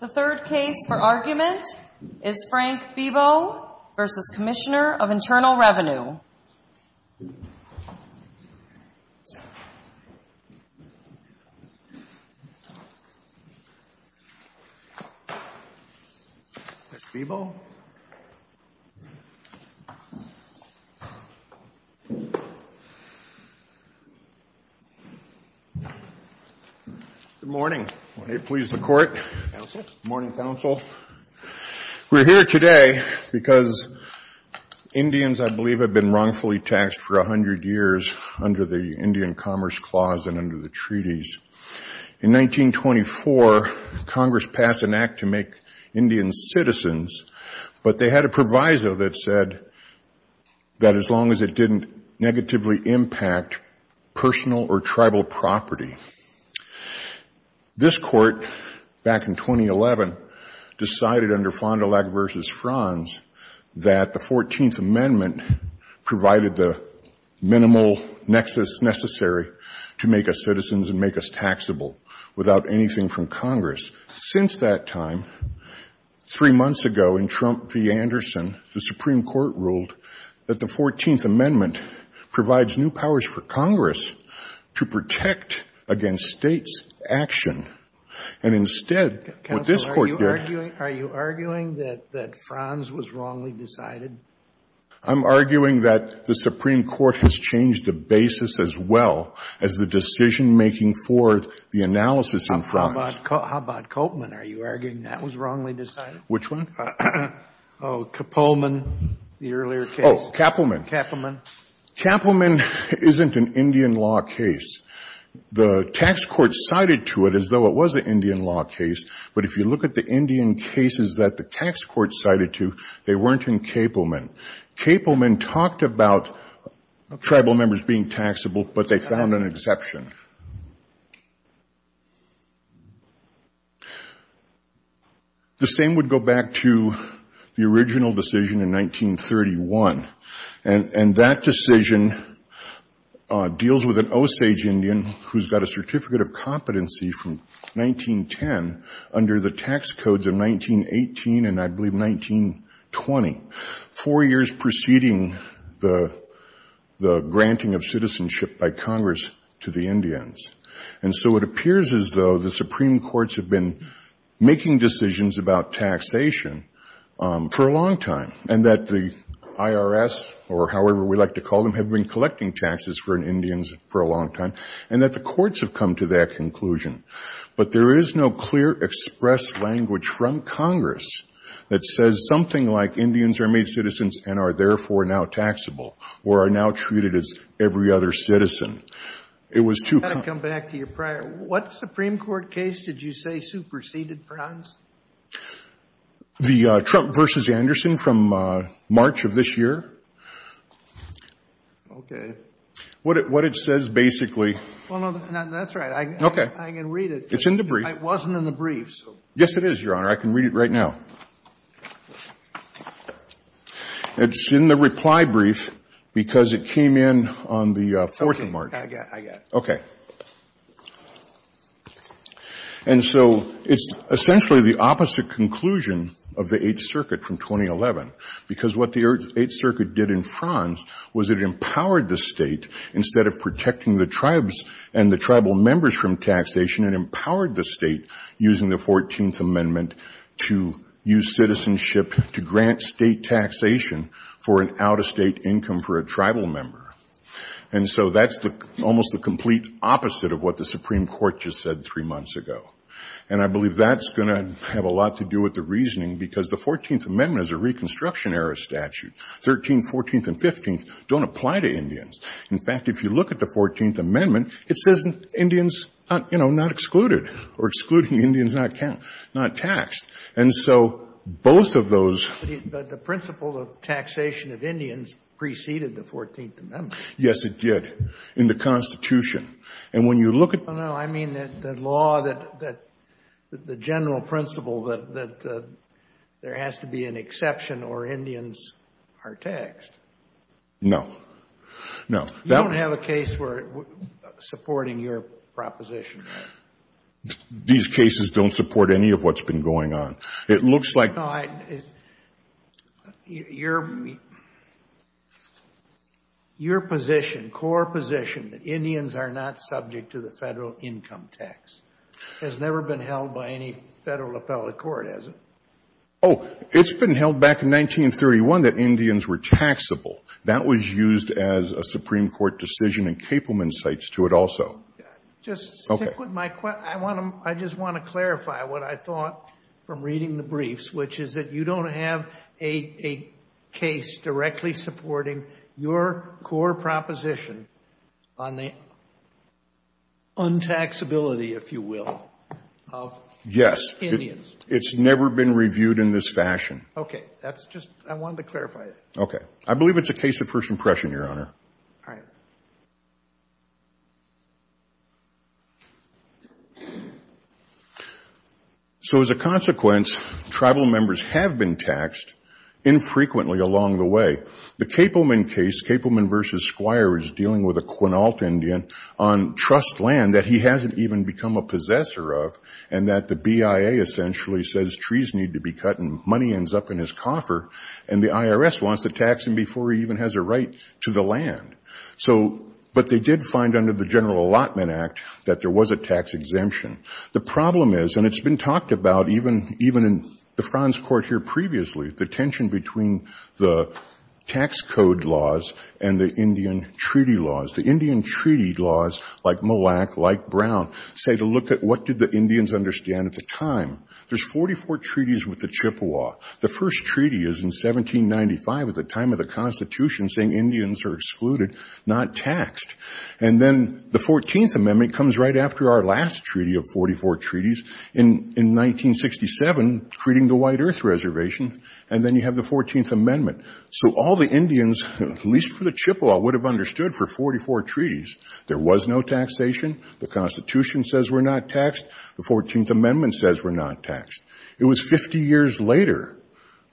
The third case for argument is Frank Bibeau v. Commissioner of Internal Revenue. Frank Bibeau v. Commissioner of Internal Revenue Good morning. May it please the Court. Good morning, Counsel. We're here today because Indians, I believe, have been wrongfully taxed for 100 years under the Indian Commerce Clause and under the treaties. In 1924, Congress passed an act to make Indians citizens, but they had a proviso that said that as long as it didn't negatively impact personal or tribal property. This Court, back in 2011, decided under Fond du Lac v. Franz that the 14th Amendment provided the minimal nexus necessary to make us citizens and make us taxable without anything from Congress. Since that time, three months ago in Trump v. Anderson, the Supreme Court ruled that the 14th Amendment provides new powers for Congress to protect against States' action. And instead, what this Court did — Counsel, are you arguing — are you arguing that — that Franz was wrongly decided? I'm arguing that the Supreme Court has changed the basis as well as the decision-making for the analysis in Franz. How about Kopelman? Are you arguing that was wrongly decided? Which one? Oh, Kopelman, the earlier case. Oh, Kapelman. Kapelman. Kapelman isn't an Indian law case. The tax court cited to it as though it was an Indian law case, but if you look at the Indian cases that the tax court cited to, they weren't in Kapelman. Kapelman talked about tribal members being taxable, but they found an exception. The same would go back to the original decision in 1931, and that decision deals with an Osage Indian who's got a Certificate of Competency from 1910 under the tax codes of 1918 and, I believe, 1920, four years preceding the granting of citizenship by Congress to the Indians. And so it appears as though the Supreme Courts have been making decisions about taxation for a long time and that the IRS, or however we like to call them, have been collecting taxes for Indians for a long time, and that the courts have come to that conclusion. But there is no clear express language from Congress that says something like Indians are made citizens and are therefore now taxable or are now treated as every other citizen. It was too common. I've got to come back to your prior. What Supreme Court case did you say superseded Brown's? The Trump v. Anderson from March of this year. Okay. What it says, basically. Well, no, that's right. I can read it. It's in the brief. It wasn't in the brief. Yes, it is, Your Honor. I can read it right now. It's in the reply brief because it came in on the 14th of March. I got it. Okay. And so it's essentially the opposite conclusion of the Eighth Circuit from 2011 because what the Eighth Circuit did in France was it empowered the State, instead of protecting the tribes and the tribal members from taxation, it empowered the State, using the 14th Amendment, to use citizenship to grant State taxation for an out-of-State income for a tribal member. And so that's almost the complete opposite of what the Supreme Court just said three months ago. And I believe that's going to have a lot to do with the reasoning because the 14th Amendment is a Reconstruction-era statute. 13th, 14th, and 15th don't apply to Indians. In fact, if you look at the 14th Amendment, it says Indians, you know, not excluded or excluding Indians not taxed. And so both of those ---- But the principle of taxation of Indians preceded the 14th Amendment. Yes, it did in the Constitution. And when you look at ---- No, no. I mean the law that the general principle that there has to be an exception or Indians are taxed. No. No. You don't have a case for supporting your proposition. These cases don't support any of what's been going on. It looks like ---- Your position, core position, that Indians are not subject to the Federal income tax has never been held by any Federal appellate court, has it? Oh, it's been held back in 1931 that Indians were taxable. That was used as a Supreme Court decision and Kaepelman cites to it also. Okay. I just want to clarify what I thought from reading the briefs, which is that you don't have a case directly supporting your core proposition on the untaxability, if you will, of Indians. Yes. It's never been reviewed in this fashion. That's just ---- I wanted to clarify that. Okay. I believe it's a case of first impression, Your Honor. All right. So as a consequence, tribal members have been taxed infrequently along the way. The Kaepelman case, Kaepelman v. Squire, is dealing with a Quinault Indian on trust land that he hasn't even become a possessor of and that the BIA essentially says trees need to be cut and money ends up in his coffer and the IRS wants to tax him before he even has a right to the land. But they did find under the General Allotment Act that there was a tax exemption. The problem is, and it's been talked about even in the Frans Court here previously, the tension between the tax code laws and the Indian treaty laws. The Indian treaty laws, like MOLAC, like Brown, say to look at what did the Indians understand at the time. There's 44 treaties with the Chippewa. The first treaty is in 1795 at the time of the Constitution saying Indians are excluded, not taxed. And then the 14th Amendment comes right after our last treaty of 44 treaties in 1967, creating the White Earth Reservation, and then you have the 14th Amendment. So all the Indians, at least for the Chippewa, would have understood for 44 treaties. There was no taxation. The Constitution says we're not taxed. The 14th Amendment says we're not taxed. It was 50 years later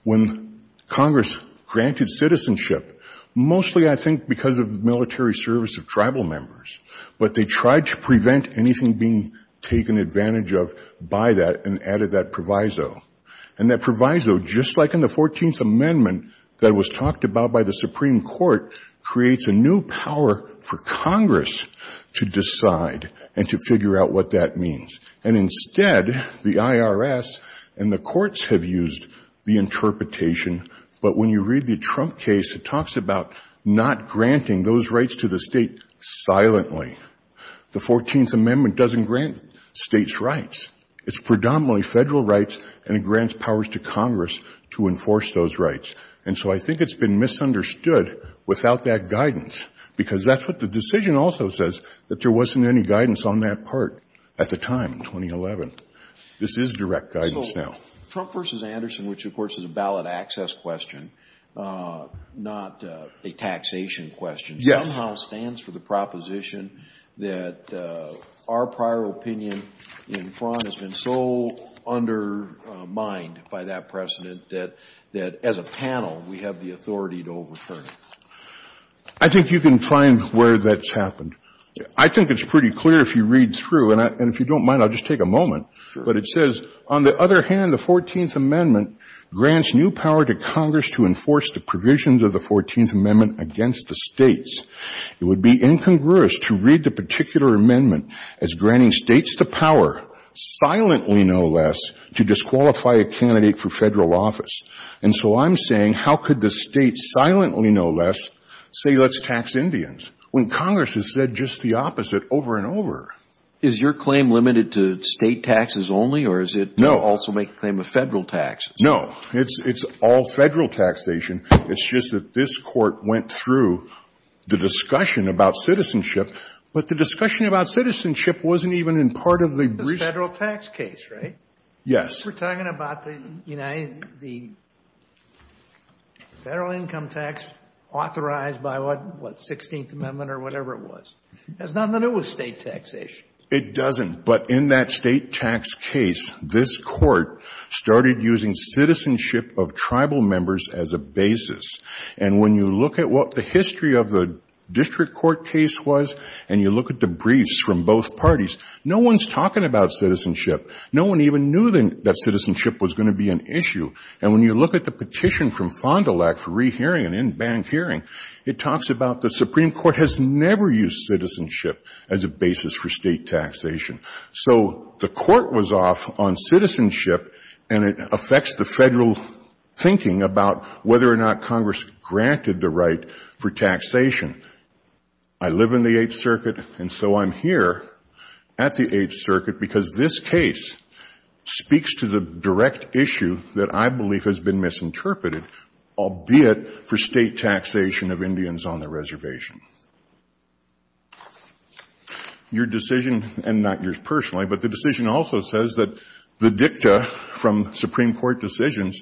when Congress granted citizenship, mostly I think because of military service of tribal members, but they tried to prevent anything being taken advantage of by that and added that proviso. And that proviso, just like in the 14th Amendment that was talked about by the Supreme Court, creates a new power for Congress to decide and to figure out what that means. And instead, the IRS and the courts have used the interpretation, but when you read the Trump case, it talks about not granting those rights to the state silently. The 14th Amendment doesn't grant states rights. It's predominantly federal rights, and it grants powers to Congress to enforce those rights. And so I think it's been misunderstood without that guidance, because that's what the decision also says, that there wasn't any guidance on that part at the time in 2011. This is direct guidance now. So Trump v. Anderson, which of course is a ballot access question, not a taxation question, somehow stands for the proposition that our prior opinion in Fraun has been so undermined by that precedent that, as a panel, we have the authority to overturn it. I think you can find where that's happened. I think it's pretty clear if you read through. And if you don't mind, I'll just take a moment. But it says, On the other hand, the 14th Amendment grants new power to Congress to enforce the provisions of the 14th Amendment against the states. It would be incongruous to read the particular amendment as granting states the power, silently no less, to disqualify a candidate for federal office. And so I'm saying, how could the state silently no less say, let's tax Indians, when Congress has said just the opposite over and over? Is your claim limited to state taxes only, or does it also make the claim of federal taxes? No. It's all federal taxation. It's just that this Court went through the discussion about citizenship, but the discussion about citizenship wasn't even in part of the recent. The federal tax case, right? Yes. We're talking about the federal income tax authorized by what, 16th Amendment or whatever it was. That's not in the newest state taxation. It doesn't. But in that state tax case, this Court started using citizenship of tribal members as a basis. And when you look at what the history of the district court case was, and you look at the briefs from both parties, no one's talking about citizenship. No one even knew that citizenship was going to be an issue. And when you look at the petition from Fond du Lac for rehearing an in-bank hearing, it talks about the Supreme Court has never used citizenship as a basis for state taxation. So the Court was off on citizenship, and it affects the federal thinking about whether or not Congress granted the right for taxation. I live in the Eighth Circuit, and so I'm here at the Eighth Circuit, because this case speaks to the direct issue that I believe has been misinterpreted, albeit for state taxation of Indians on the reservation. Your decision, and not yours personally, but the decision also says that the dicta from Supreme Court decisions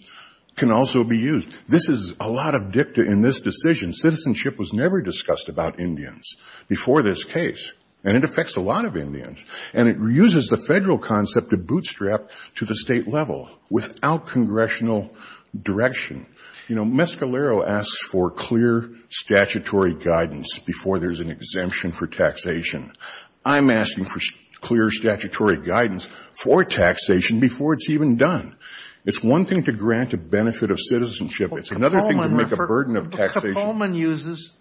can also be used. This is a lot of dicta in this decision. Citizenship was never discussed about Indians before this case, and it affects a lot of Indians. And it reuses the federal concept of bootstrap to the state level without congressional direction. You know, Mescalero asks for clear statutory guidance before there's an exemption for taxation. I'm asking for clear statutory guidance for taxation before it's even done. It's one thing to grant a benefit of citizenship. It's another thing to make a burden of taxation. Kapoman uses,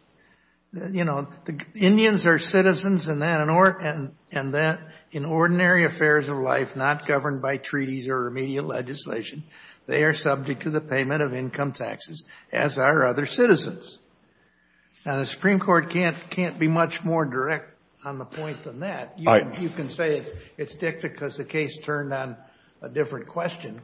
you know, Indians are citizens, and that in ordinary affairs of life, not governed by treaties or remedial legislation. They are subject to the payment of income taxes, as are other citizens. Now, the Supreme Court can't be much more direct on the point than that. You can say it's dicta because the case turned on a different question,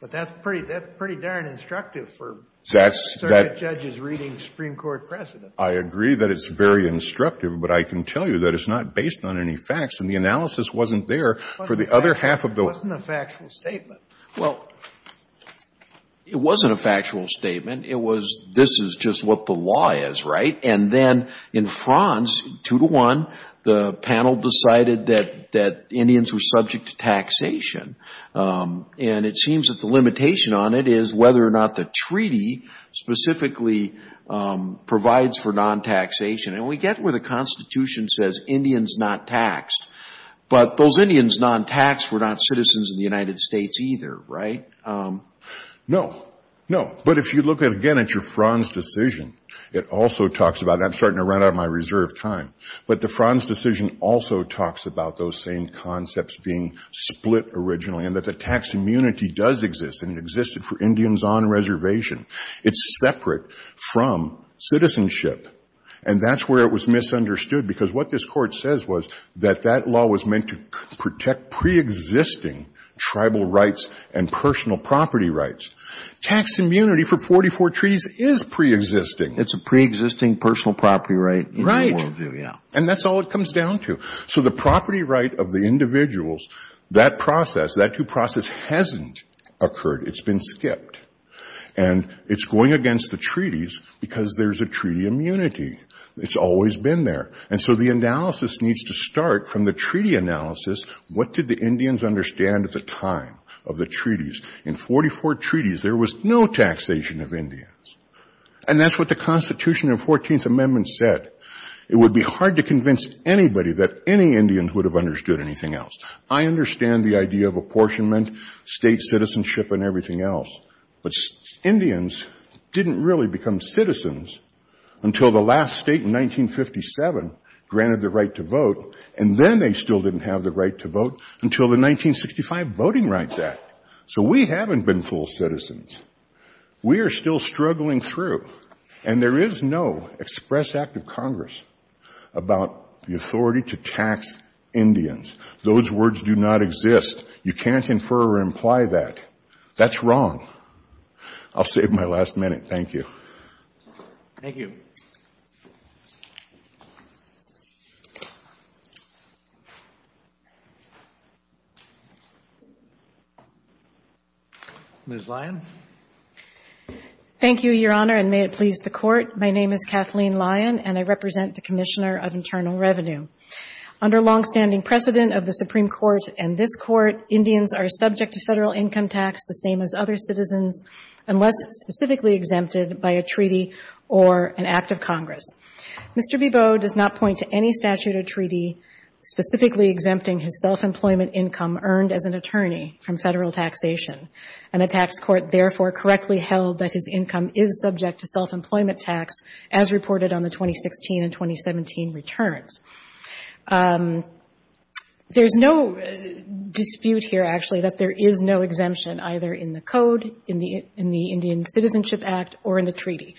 but that's pretty darn instructive for circuit judges reading Supreme Court precedent. I agree that it's very instructive, but I can tell you that it's not based on any facts, and the analysis wasn't there for the other half of the way. It wasn't a factual statement. Well, it wasn't a factual statement. It was this is just what the law is, right? And then in Franz, two to one, the panel decided that Indians were subject to taxation. And it seems that the limitation on it is whether or not the treaty specifically provides for non-taxation. And we get where the Constitution says Indians not taxed, but those Indians non-taxed were not citizens of the United States either, right? No. No. But if you look at, again, at your Franz decision, it also talks about, and I'm starting to run out of my reserve time, but the Franz decision also talks about those same concepts being split originally and that the tax immunity does exist, and it existed for Indians on reservation. It's separate from citizenship. And that's where it was misunderstood, because what this Court says was that that law was meant to protect pre-existing tribal rights and personal property rights. Tax immunity for 44 treaties is pre-existing. It's a pre-existing personal property right. Right. And that's all it comes down to. So the property right of the individuals, that process, that due process hasn't occurred. It's been skipped. And it's going against the treaties because there's a treaty immunity. It's always been there. And so the analysis needs to start from the treaty analysis. What did the Indians understand at the time of the treaties? In 44 treaties, there was no taxation of Indians. And that's what the Constitution and 14th Amendment said. It would be hard to convince anybody that any Indians would have understood anything else. I understand the idea of apportionment, state citizenship, and everything else. But Indians didn't really become citizens until the last state in 1957 granted the right to vote, and then they still didn't have the right to vote until the 1965 Voting Rights Act. So we haven't been full citizens. We are still struggling through. And there is no express act of Congress about the authority to tax Indians. Those words do not exist. You can't infer or imply that. That's wrong. I'll save my last minute. Thank you. Thank you. Ms. Lyon. Thank you, Your Honor, and may it please the Court. My name is Kathleen Lyon, and I represent the Commissioner of Internal Revenue. Under longstanding precedent of the Supreme Court and this Court, Indians are subject to Federal income tax the same as other citizens unless specifically exempted by a treaty or an act of Congress. Mr. Beveau does not point to any statute or treaty specifically exempting his self-employment income earned as an attorney from Federal taxation. And the tax court therefore correctly held that his income is subject to self-employment tax as reported on the 2016 and 2017 returns. There's no dispute here, actually, that there is no exemption either in the code, in the Indian Citizenship Act, or in the treaty.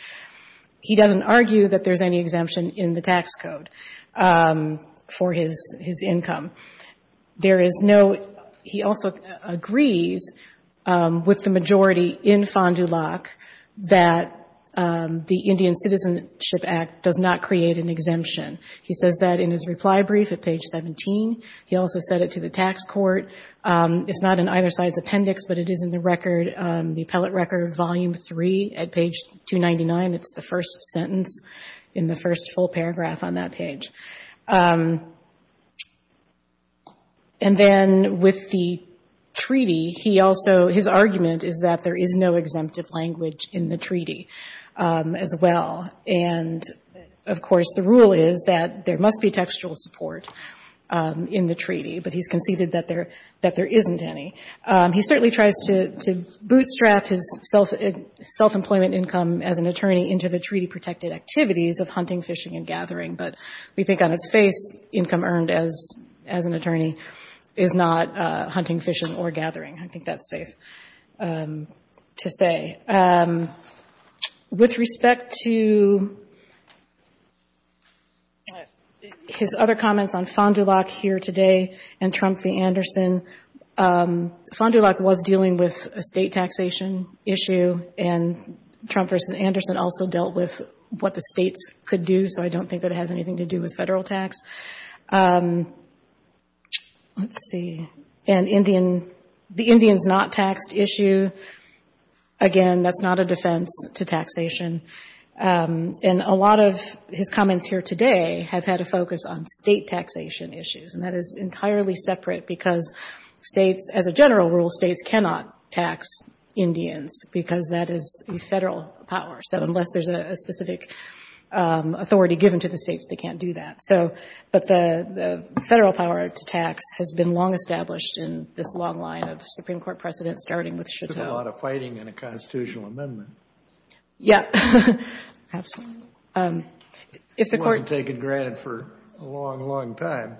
He doesn't argue that there's any exemption in the tax code for his income. There is no – he also agrees with the majority in Fond du Lac that the Indian Citizenship Act does not create an exemption. He says that in his reply brief at page 17. He also said it to the tax court. It's not in either side's appendix, but it is in the record, the appellate record volume 3 at page 299. It's the first sentence in the first full paragraph on that page. And then with the treaty, he also – his argument is that there is no exemptive language in the treaty as well. And, of course, the rule is that there must be textual support in the treaty, but he's conceded that there isn't any. He certainly tries to bootstrap his self-employment income as an attorney into the treaty protected activities of hunting, fishing, and gathering, but we think on its face income earned as an attorney is not hunting, fishing, or gathering. I think that's safe to say. With respect to his other comments on Fond du Lac here today and Trump v. Anderson, Fond du Lac was dealing with a state taxation issue, and Trump v. Anderson also dealt with what the states could do, so I don't think that it has anything to do with federal tax. Let's see. And Indian – the Indians not taxed issue, again, that's not a defense to taxation. And a lot of his comments here today have had a focus on state taxation issues, and that is entirely separate because states, as a general rule, states cannot tax Indians because that is a federal power. So unless there's a specific authority given to the states, they can't do that. But the federal power to tax has been long established in this long line of Supreme Court precedent, starting with Chateau. There's a lot of fighting in a constitutional amendment. Yeah. It wasn't taken granted for a long, long time.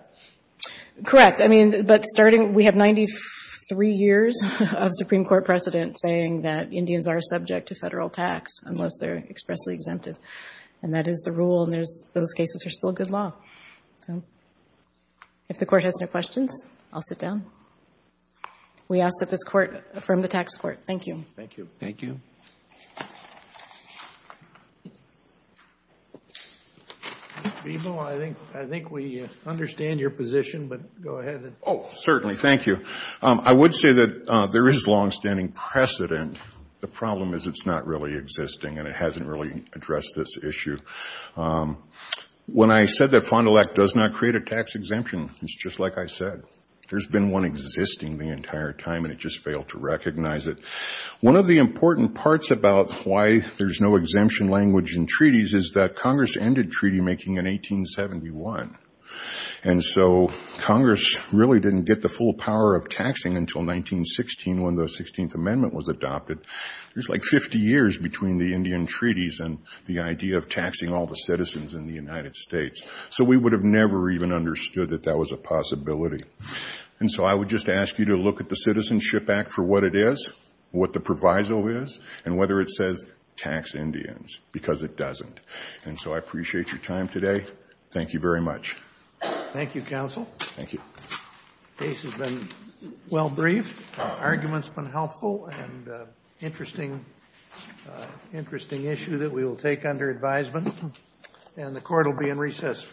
Correct. I mean, but starting – we have 93 years of Supreme Court precedent saying that Indians are subject to federal tax unless they're expressly exempted, and that is the rule, and there's – those cases are still good law. So if the Court has no questions, I'll sit down. We ask that this Court affirm the tax court. Thank you. Thank you. Thank you. Mr. Bebo, I think we understand your position, but go ahead. Oh, certainly. Thank you. I would say that there is longstanding precedent. The problem is it's not really existing, and it hasn't really addressed this issue. When I said that Fond du Lac does not create a tax exemption, it's just like I said. There's been one existing the entire time, and it just failed to recognize it. One of the important parts about why there's no exemption language in treaties is that Congress ended treaty making in 1871, and so Congress really didn't get the full power of taxing until 1916 when the 16th Amendment was adopted. There's like 50 years between the Indian treaties and the idea of taxing all the citizens in the United States. So we would have never even understood that that was a possibility. And so I would just ask you to look at the Citizenship Act for what it is, what the proviso is, and whether it says tax Indians, because it doesn't. And so I appreciate your time today. Thank you very much. Thank you, counsel. Thank you. The case has been well briefed. Arguments have been helpful and an interesting issue that we will take under advisement. And the court will be in recess.